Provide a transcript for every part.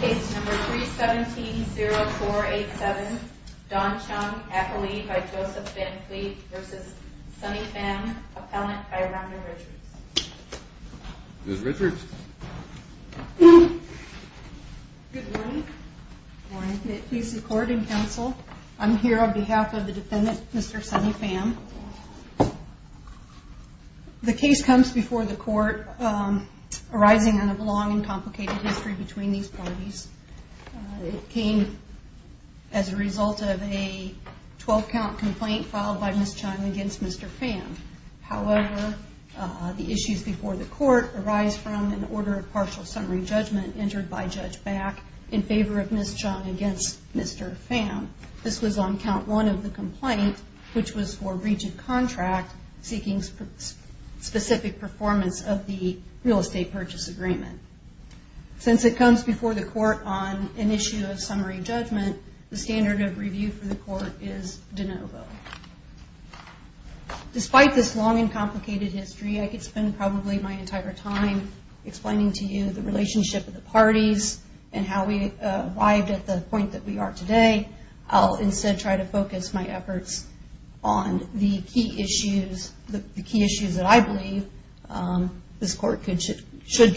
case number 3 17 0487 Don by joseph Van Cleve versus in council. I'm here on b Mr Sonny fam. The case co the court, um, arising o history between these pa against Mr Pham. However, the court arise from an o judgment entered by Judge complaint, which was for the real estate purchase comes before the court on judgment, the standard of court is de novo. Despite time explaining to you th we are today. I'll instea on the key issues, the ke believe, um, this court c along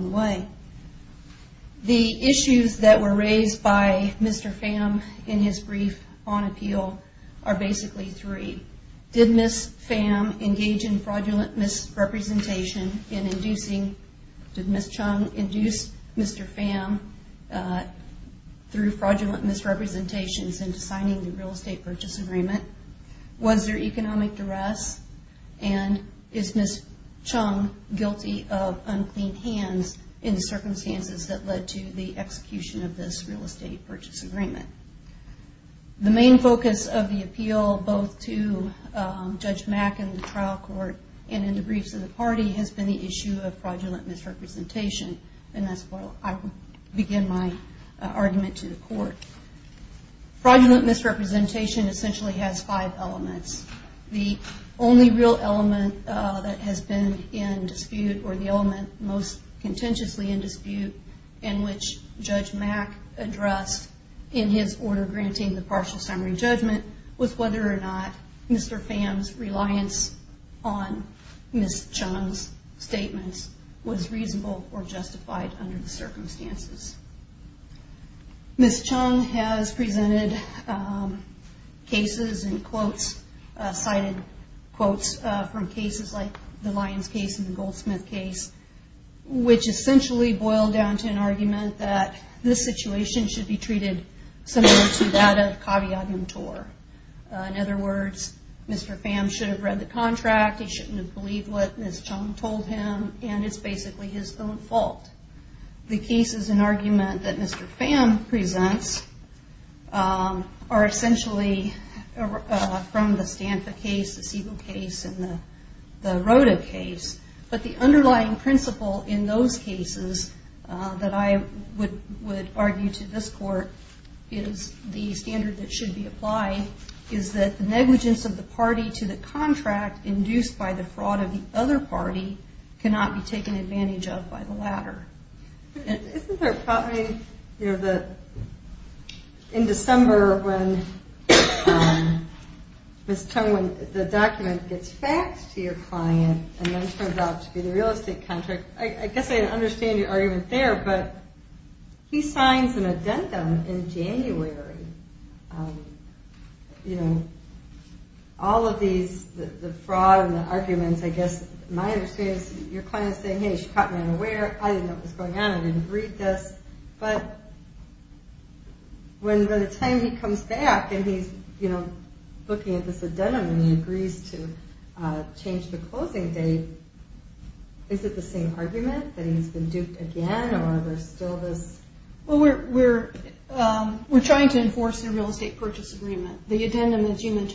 the way. The issues Mr Pham in his brief on a three. Did Miss Pham enga misrepresentation in indu induce Mr Pham, uh, throu agreement? Was there econ Miss Chung guilty of uncle that led to the execution purchase agreement. The m has been the issue of pro to the court. Fraudulent essentially has five elem element that has been in most contentiously in dis Mac addressed in his orde summary judgment was wheth statements was reasonable presented, um, cases and quotes from cases like th goldsmith case, which ess to an argument that this be treated similar to that other words, Mr Pham shou shouldn't have believed w him. And it's basically h an argument that Mr Pham the road of case. But the in those cases that I wou is that the negligence of by the fraud of the other advantage of by the latte you know, the, in Decembe and then turns out to be I guess I understand your but he signs an addendum the arguments, I guess my saying, hey, she caught m know what's going on. I d But when the time he come to change the closing dat that he's been duped agai still this? Well, we're w to enforce their real est The addendum, as you ment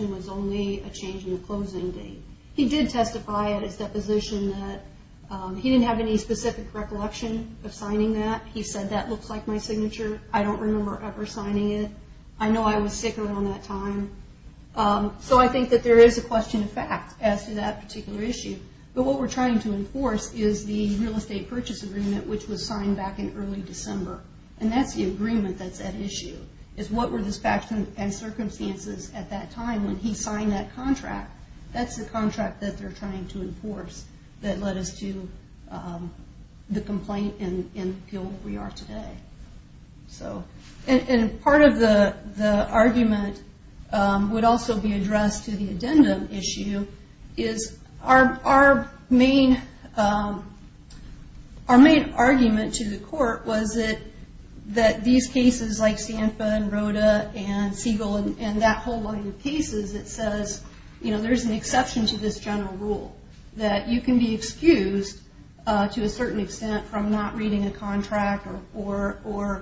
closing date. He did test that he didn't have any s of signing that he said t signature. I don't rememb that there is a question particular issue. But wha to enforce is the real es which was signed back in that's the agreement that what were the spectrum an that contract, that's the trying to enforce that le the argument would also b to the court was it that Sanford, Rhoda and Siegel there's an exception to t that you can be excused t from not reading a contra of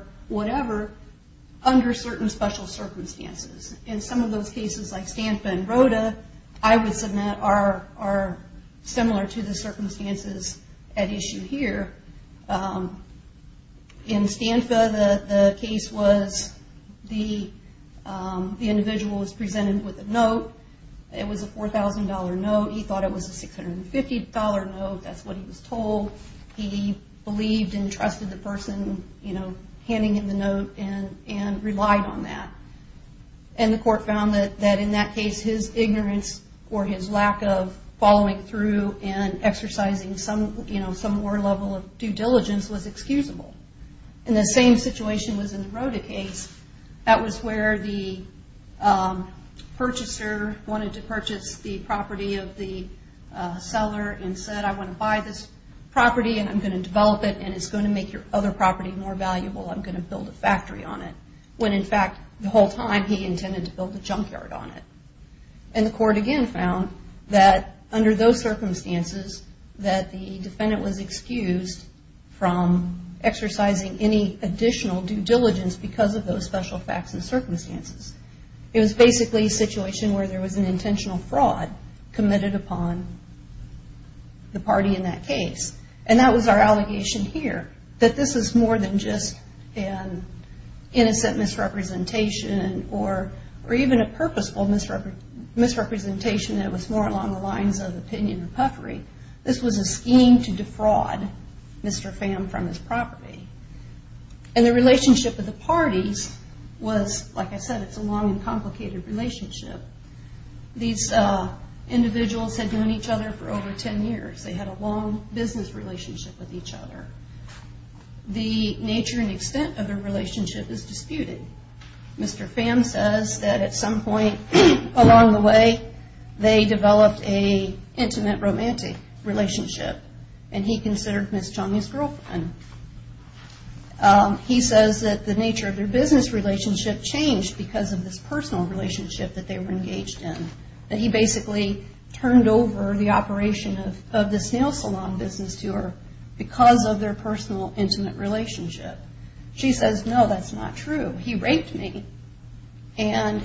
those cases like Stamp are similar to the circum here. Um, in Stanford, th was a $4,000 note. He tho $650. No, that's what he in the note and relied on that, that in that case, his lack of following thr was excusable in the same the property of the selle buy this property and I'm and it's going to make yo more valuable. I'm going on it when in fact the wh to build a junkyard on it found that under those ci any additional due diligen special facts and circumst situation where there was intentional fraud committ in that case. And that wa that this is more than ju misrepresentation or or e misrepresentation. It was of opinion and puffery. T defraud Mr. Fam from his relationship with the parti individuals had known eac with each other. The natu relationship is disputed. at some point along the w a intimate romantic relat Miss Johnny's girlfriend. the nature of their busin because of this personal they were engaged in. Tha over the operation of the to her because of their p relationship. She says, n He raped me and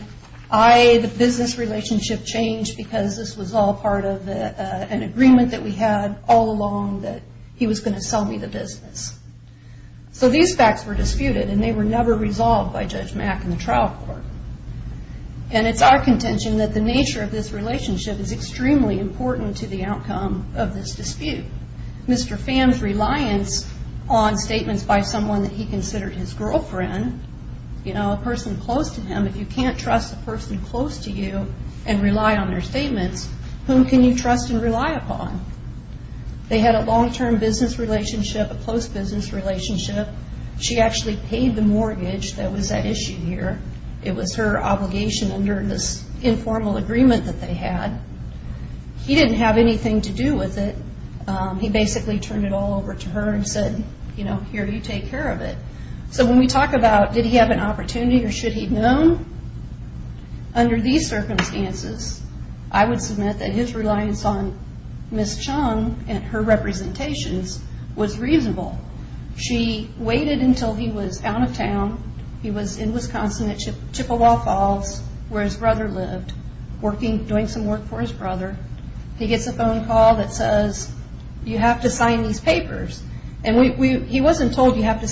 I, the bu because this was all part we had all along that he the business. So these fa and they were never resol contention that the natur is extremely important to this dispute. Mr. Fan's r by someone that he consid you know, a person close can't trust the person cl on their statements. Whom rely upon? They had a long a close business relation paid the mortgage. That w It was her obligation und agreement that they had. to do with it. He basicall to her and said, you know, of it. So when we talk ab opportunity or should he' circumstances, I would su on Miss Chung and her rep reasonable. She waited un of town. He was in Wiscons Falls where his brother l some work for his brother that says you have to sig we, he wasn't told you ha to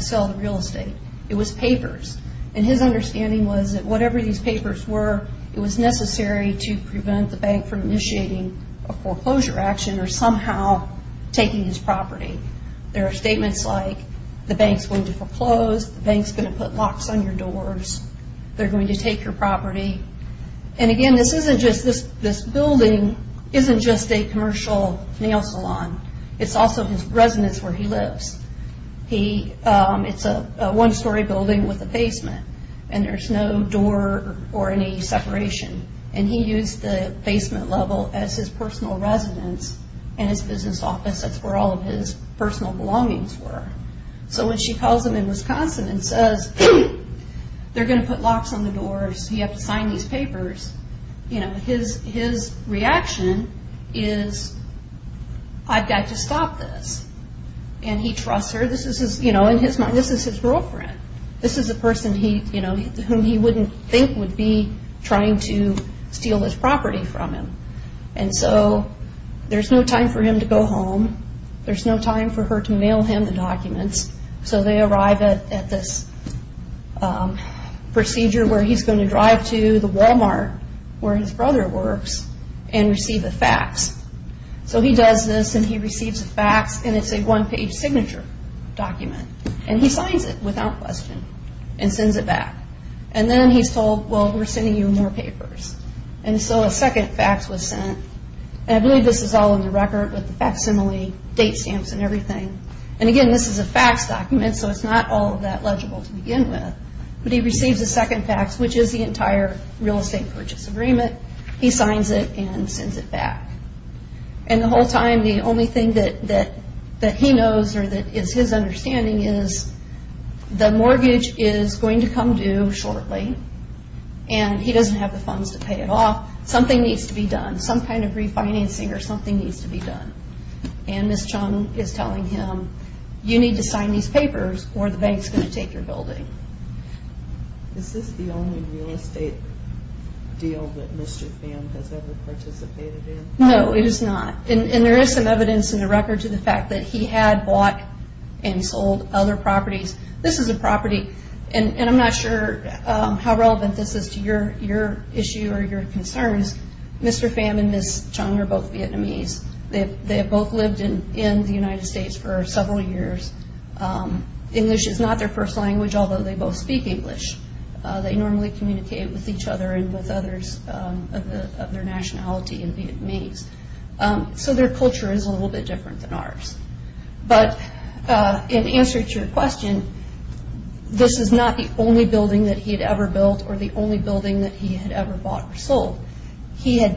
sell the real estate. his understanding was tha were, it was necessary to initiating a foreclosure a his property. There are s going to foreclose, the b locks on your doors, thei property. And again, this building isn't just a com It's also his residence w a one story building with there's no door or any se the basement level as his and his business office. where all of his persona when she calls him in Wisc going to put locks on the sign these papers, you kn is I've got to stop this. This is, you know, in his girlfriend, this is a per he wouldn't think would b his property from him. An him to go home. There's n him the documents. So the um procedure where he's g walmart where his brother facts. So he does this an and it's a one page signa he signs it without questi more papers. And so a sec was sent. I believe this with the facsimile date s And again, this is a fact not all of that legible t he receives a second fax, real estate purchase agre and sends it back. And th only thing that that that is his understanding is t to come due shortly and h some kind of refinancing to be done. And this john you need to sign these pa going to take your buildin real estate deal that Mr. in. No, it is not. And th in the record to the fact and sold other properties And I'm not sure how relev your issue or your concer Chung are both Vietnamese lived in in the United St Um English is not their f they both speak English. with each other and with nationality and Vietnamese is a little bit different answer to your question, this is not the only buil ever built or the only bu ever bought or sold. He h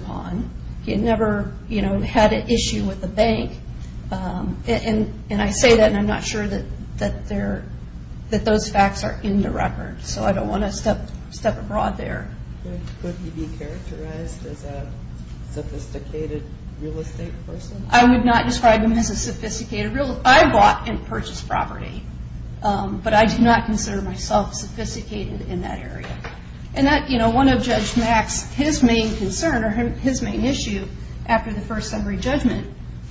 upon. He had never, you k the bank. Um, and I say t that, that there, that th record. So I don't want t there. Would you be chara real estate person? I wou as a sophisticated real. purchased property. Um, b myself sophisticated in t you know, one of Judge Ma or his main issue after t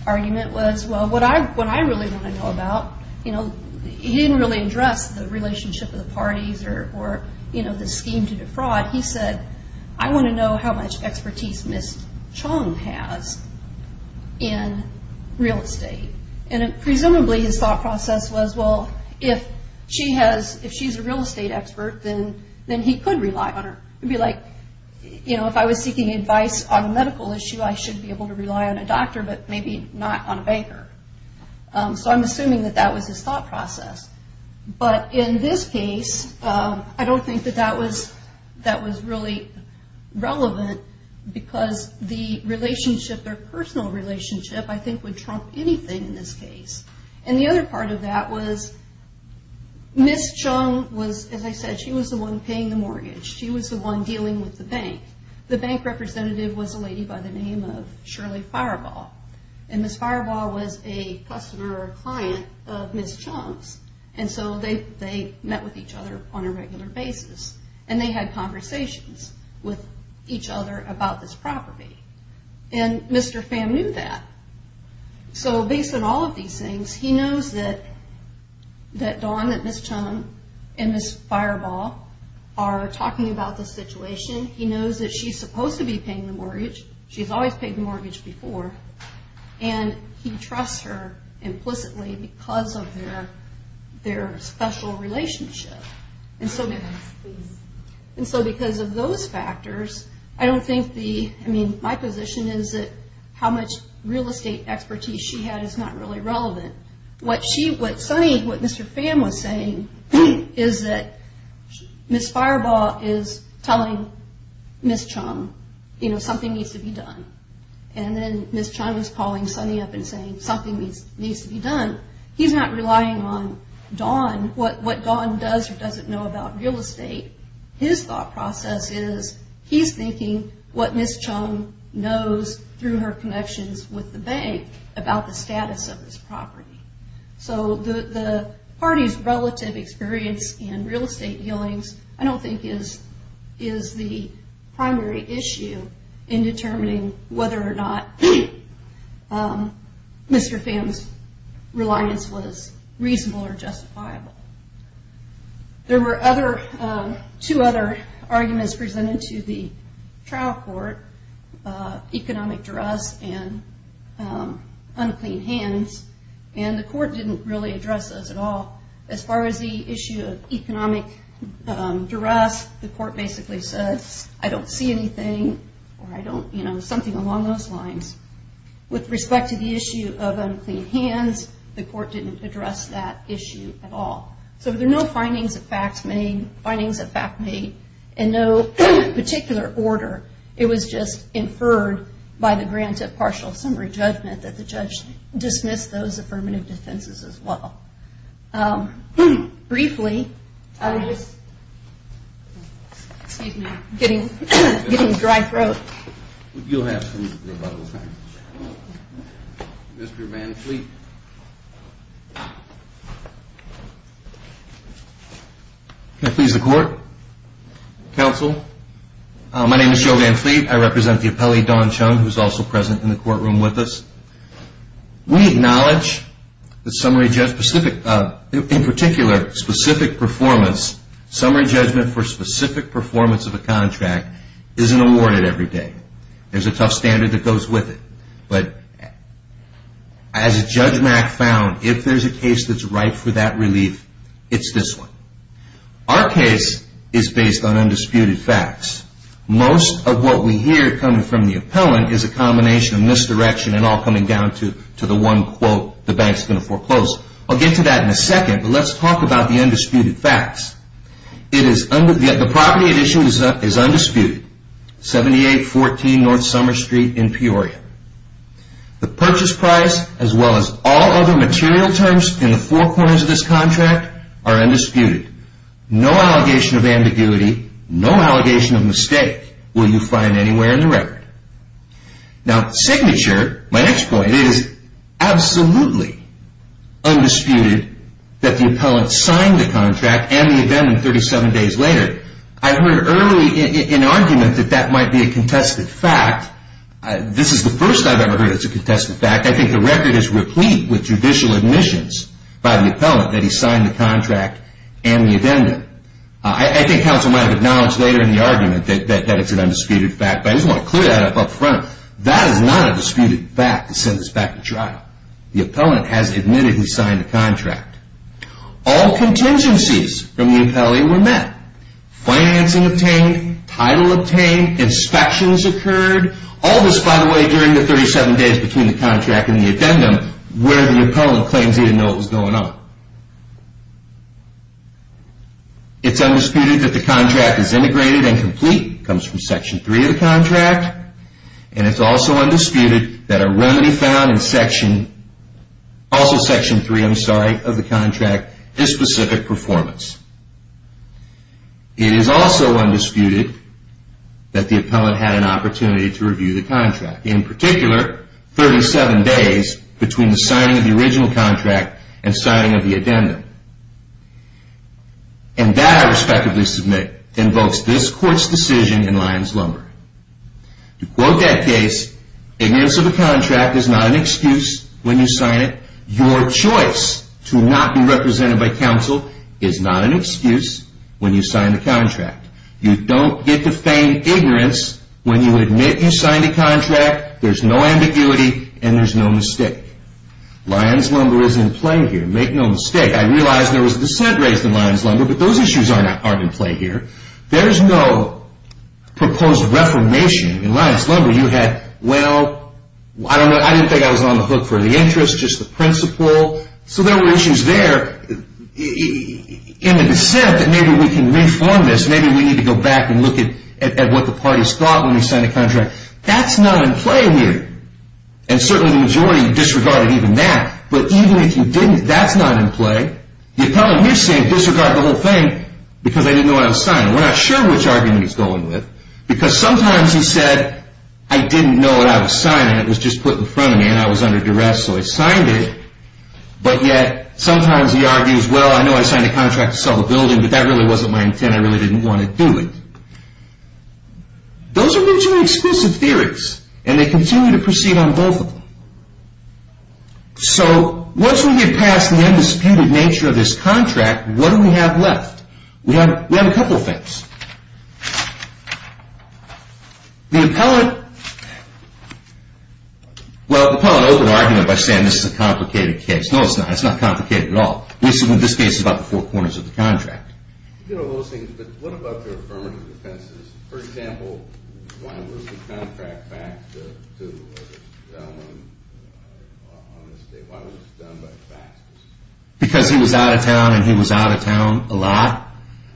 argument was, well, what to know about, you know, the relationship of the p the scheme to defraud, he how much expertise Miss C has in real estate. And p process was, well, if she real estate expert, then on her. It'd be like, you advice on a medical issue to rely on a doctor, but Um, so I'm assuming that process. But in this case that was, that was really because the relationship I think would trump anyth the other part of that wa as I said, she was the on She was the one dealing w representative was a lady Fireball and Miss Firebal client of Miss Chunks. An each other on a regular b they had conversations wi this property. And Mr. Fa all of these things, he k Miss Chung and Miss Fireba the situation. He knows t to be paying the mortgage the mortgage before and h because of their, their s And so, and so because of don't think the, I mean, how much real estate expe not really relevant. What Mr. Fan was saying is tha telling Miss Chung, you k to be done. And then Miss sunny up and saying somet needs to be done. He's no what, what gone does or d estate. His thought proce what Miss Chung knows thr with the bank about the s So the party's relative e dealings, I don't think i issue in determining wheth Mr. Fans reliance was rea There were other two othe to the trial court, econo hands and the court didn' at all. As far as the iss the court basically says, or I don't, you know, som lines with respect to the hands. The court didn't a at all. So there are no f of fact made and no partic just inferred by the grant judgment that the judge d defenses as well. Um, brie I'm just getting, getting have some Mr Van Fleet. P Council. My name is Joe V the appellee Don Chung, w in the courtroom with us. the summary just specific in particular, specific p judgment for specific per isn't awarded every day. that goes with it. But as if there's a case that's it's this one. Our case i facts. Most of what we hea appellant is a combinatio and all coming down to to going to foreclose. I'll But let's talk about the is under the property. It 78 14 North Summer Street price as well as all othe in the four corners of th No allegation of ambiguity mistake will you find any record. Now signature. M absolutely undisputed tha the contract and the even I've heard early in argum be a contested fact. This ever heard. It's a contest record is replete with ju by the appellant that he and the addendum. I think later in the argument tha fact, but I just want to That is not a disputed fa to trial. The appellant h signed a contract. All co the appellee were met, fi obtained, inspections occ by the way, during the 3 the contract and the adde claims he didn't know what undisputed that the contr and complete comes from s contract. And it's also u remedy found in section a sorry, of the contract. I It is also undisputed that an opportunity to review 37 days between the signi contract and signing of t And that I respectively s court's decision in Lion' that case, ignorance of t an excuse when you sign i to not be represented by an excuse when you sign t get the same ignorance wh signed a contract, there' there's no mistake. Lion' here. Make no mistake. I raised in lions lumber, b aren't aren't in play her reformation in lions lumb I didn't think I was on t just the principle. So th in the dissent that maybe this. Maybe we need to go the party's thought when that's not in play here. majority disregarded even But even if you didn't, t you tell him you're saying whole thing because I did We're not sure which argu because sometimes he said I was signed and it was j and I was under duress. S sometimes he argues, well contract to sell the buil wasn't my intent. I reall do it. Those are mutually theories and they continu both of them. So once we nature of this contract, We have, we have a couple Well, the public open arg a complicated case. No, i complicated at all. We se about the four corners of all those things. But wha for example, contract fac was done by fax because h he was out of town a lot.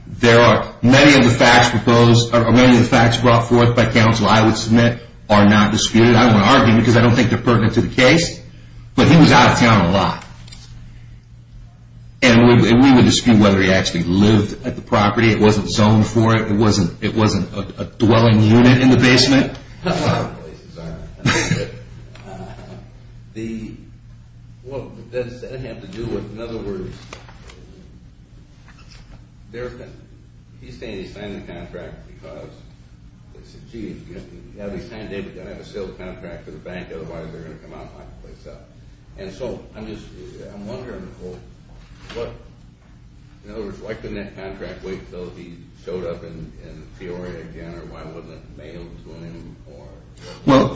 of the facts proposed, ma forth by council, I would disputed. I don't wanna a don't think they're perti he was out of town a lot. dispute whether he actuall wasn't zoned for it. It w unit in the basement. Uh, have to do with? In other he signed the contract be he signed it, we're gonna to the bank. Otherwise the find a place up. And so I longer. What? No, it's li wait till he showed up in why wasn't it mailed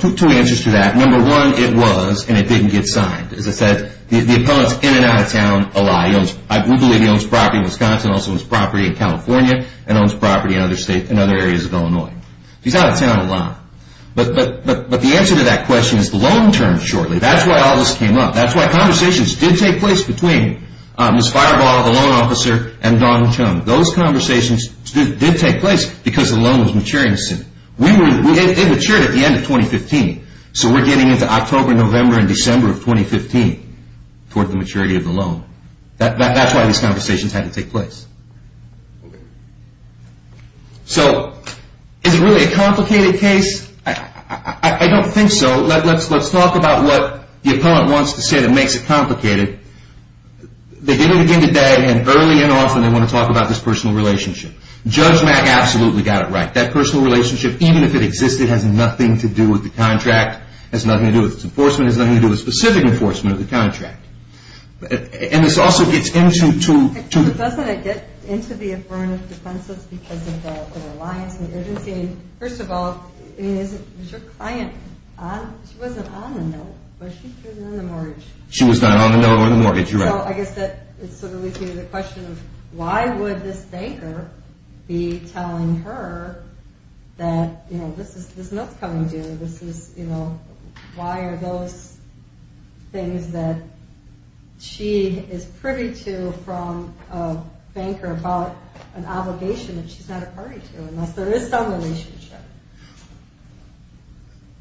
to h to that number one. It wa signed. As I said, the op of town a lot. He owns, I property in Wisconsin, al in California and owns pr in other areas of Illinois a lot. But the answer to long term shortly. That's up. That's why conversatio between Ms. Fireball, a l chum. Those conversations because the loan was matu at the end of 2015. So we november and december of of the loan. That's why t had to take place. So is case? I don't think so. L what the opponent wants t complicated. They didn't and often they want to ta relationship. Judge Mac a right. That personal rela it existed has nothing to It's nothing to do with t going to do a specific en contract. And this also g it get into the affirmative of the reliance and urgen of all, is your client? U note, but she wasn't in t not on the note on the mo that sort of leads me to would this banker be tell this is this not coming d why are those things that to from a banker about an not a party to unless the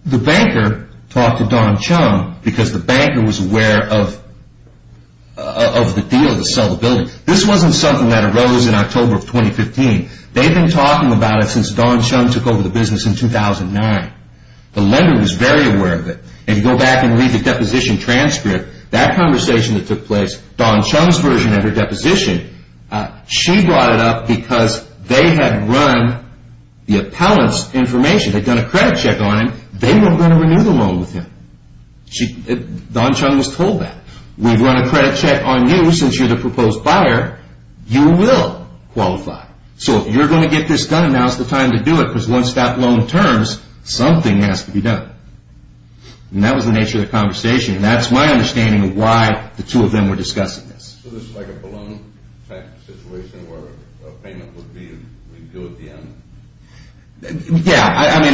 The banker talked to Don banker was aware of of th building. This wasn't so in october of 2015. They' it since Don chum took ov 2009. The lender was very go back and read the depo that conversation that to version of her deposition She brought it up becaus the appellant's informat check on him. They were g loan with him. Don chum w run a credit check on you proposed buyer, you will going to get this done, a do it because once that l has to be done. And that conversation. And that's of why the two of them we like a balloon situation would be, we do at the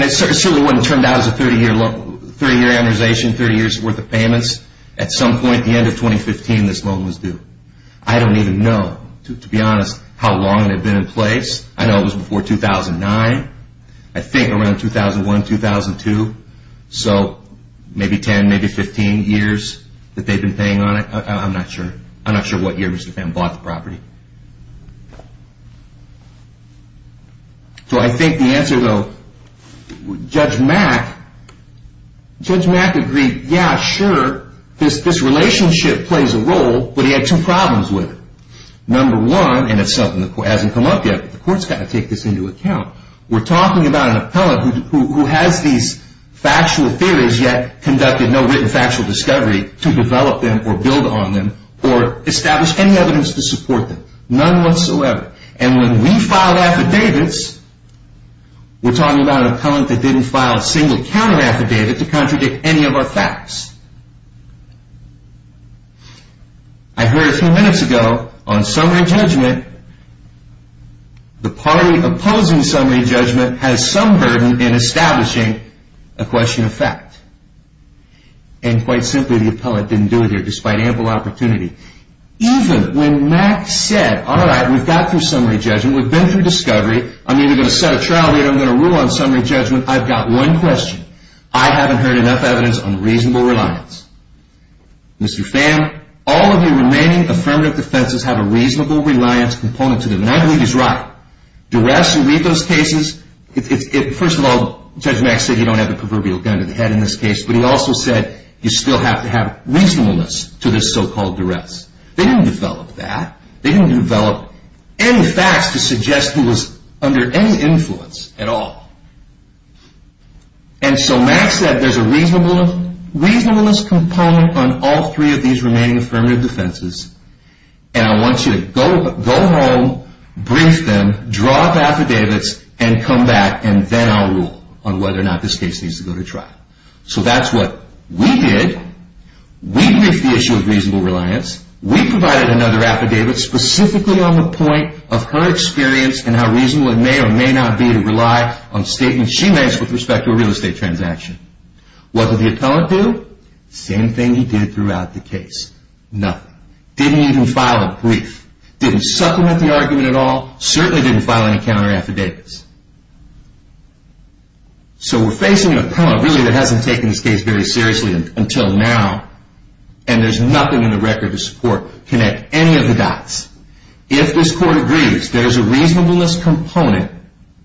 en certainly wouldn't turn d 30 year amortization, 30 At some point at the end was due. I don't even kno how long it had been in p before 2009. I think arou maybe 10, maybe 15 years been paying on it. I'm no what year Mr. Femme bough I think the answer though agree. Yeah, sure. This r a role, but he had two pr one and it's something th up yet. The court's got t account. We're talking a who has these factual the no written factual discov them or build on them or to support them. None on we filed affidavits, we'r a cullent that didn't fil affidavit to contradict a heard a few minutes ago o The party opposing summa has some burden in estab fact. And quite simply, t do it here despite ample Mac said, all right, we'v judgment. We've been thro either going to set a tri rule on summary judgment. I haven't heard enough ev reliance. Mr. Fan, all of defenses have a reasonabl to them. And I believe he those cases. It's first o you don't have a proverbia this case. But he also sa have reasonableness to th They didn't develop that. any facts to suggest he w at all. And so Max said t reasonableness component these remaining affirmati And I want you to go, go up affidavits and come ba on whether or not this ca trial. So that's what we of reasonable reliance. W affidavits specifically o experience and how reason not be to rely on stateme respect to a real estate the appellant do? Same th the case. Nothing. Didn't didn't supplement the arg didn't file any countera facing an appellant reall this case very seriously nothing in the record to of the dots. If this cour a reasonableness componen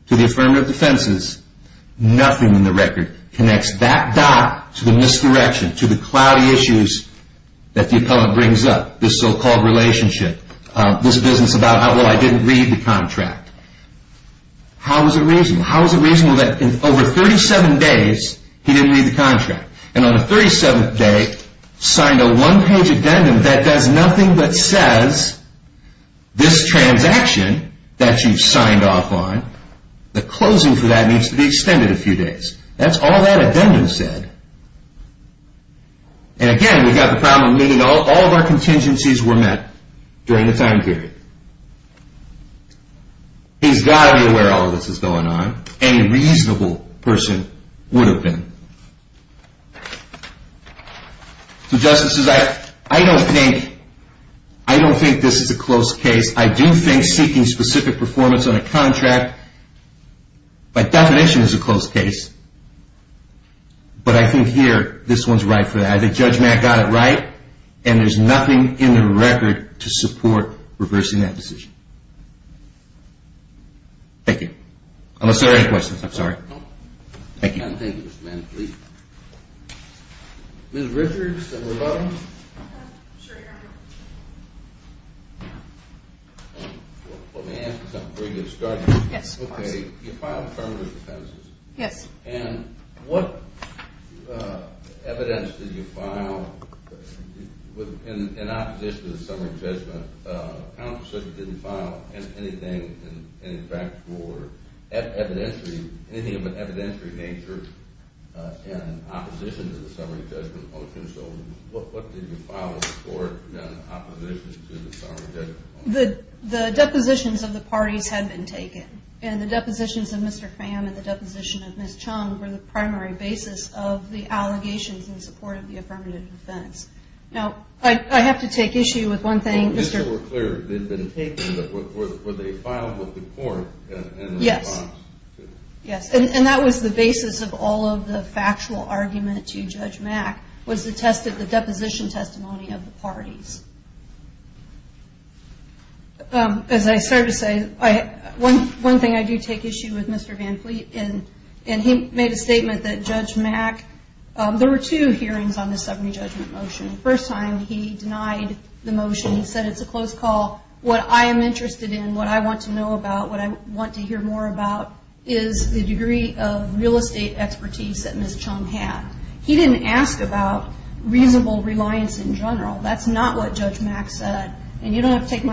defenses, nothing in the dot to the misdirection t that the appellant brings relationship. Uh, this bu I didn't read the contrac How is it reasonable that didn't read the contract a one page addendum that says this transaction tha on. The closing for that be extended a few days. T said. And again, we've go all of our contingencies time period. He's got to is going on. Any reasonabl been. So justices, I don' this is a close case. I d performance on a contract a close case. But I think right for that. I think J and there's nothing in th reversing that decision. there any questions. I'm started. Yes. Okay. You f Yes. And what evidence d in opposition to the summ didn't file anything in f anything of an evidentiary to the summary judgment o you file for opposition t the depositions of the pa and the depositions of mr of Miss Chung were the pr in support of the affirma I have to take issue with were clear. They've been filed with the court. Yes the basis of all of the f to Judge Mack was the tes testimony of the parties. to say, one thing I do ta Van Fleet and he made a s Mack. There were two hear judgment motion. First ti motion. He said, it's a c am interested in what I w what I want to hear more of real estate expertise had. He didn't ask about in general. That's not wh and you don't have to tak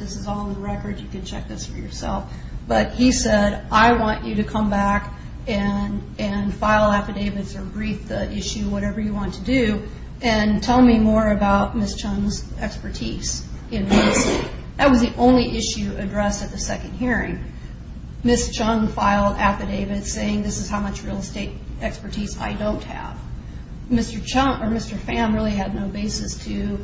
is all in the record. You yourself. But he said, I and and file affidavits o whatever you want to do a Miss Chung's expertise in only issue addressed at t Miss Chung filed affidavi this is how much real est don't have. Mr. Chum or M no basis to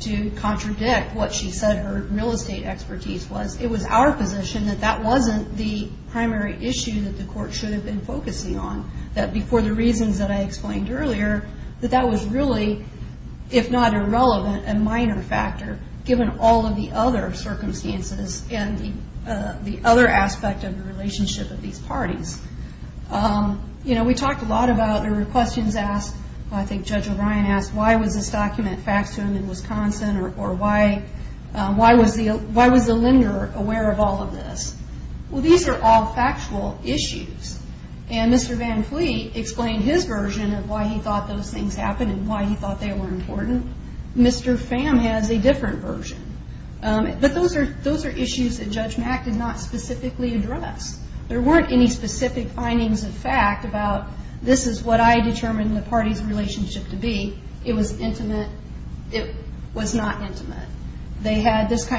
to contradict real estate expertise was that that wasn't the prim court should have been fo the reasons that I explai was really, if not irrelev given all of the other ci and the other aspect of t of these parties. Um, yo about there were question O'Brien asked, why was th him in Wisconsin? Or why lender aware of all of th all factual issues. And M his version of why he tho happened and why he thought Mr. Fam has a different v those are issues that Ju address. There weren't an of fact about this is wha relationship to be. It wa not intimate. They had th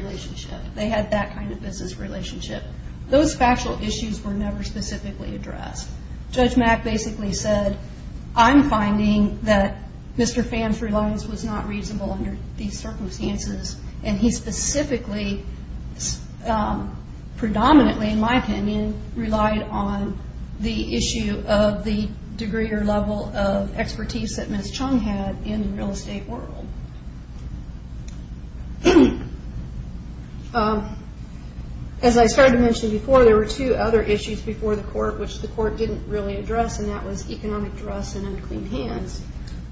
relationship. They had th relationship. Those factu specifically addressed. J said, I'm finding that Mr not reasonable under thes he specifically, um, pre relied on the issue of t of expertise that Miss Ch world. Um, as I started t were two other issues befo the court didn't really a dress and unclean hands.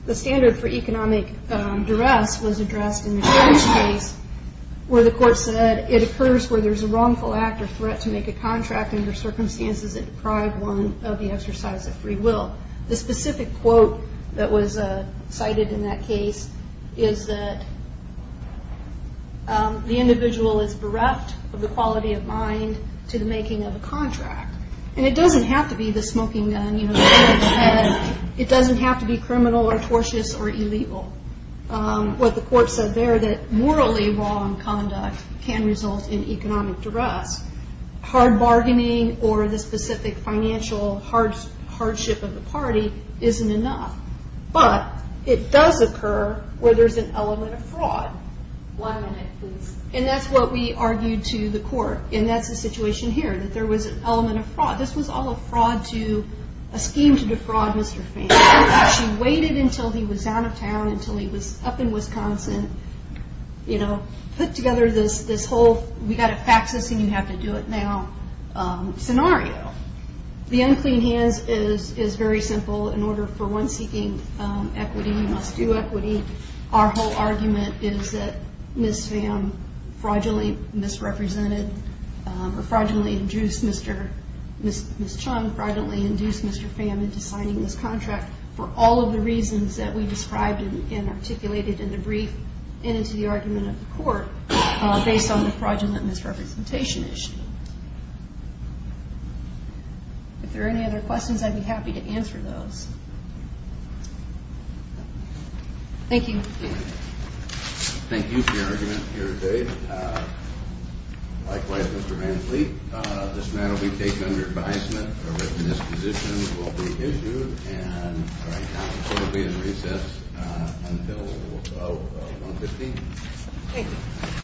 The standard for economic in this case where the co where there's a wrongful a contract under circumst of the exercise of free w that was cited in that ca is bereft of the quality of a contract. And it doe gun, you know, it doesn't or tortious or illegal. U there that morally wrong in economic duress, hard specific financial hards isn't enough. But it does element of fraud. One min what we argued to the cou here that there was an el This was all a fraud to a Mr. She waited until he w until he was up in Wiscon together this, this whole and you have to do it. No hands is very simple in o equity. You must do equit is that Miss Sam fraudul or fraudulently induced M induced Mr Fam into signi all of the reasons that w in the brief and into the court based on the fraudu issue. If there are any o be happy to answer those. Thank you. Thank you for today. Uh, likewise, Mr. matter will be taken under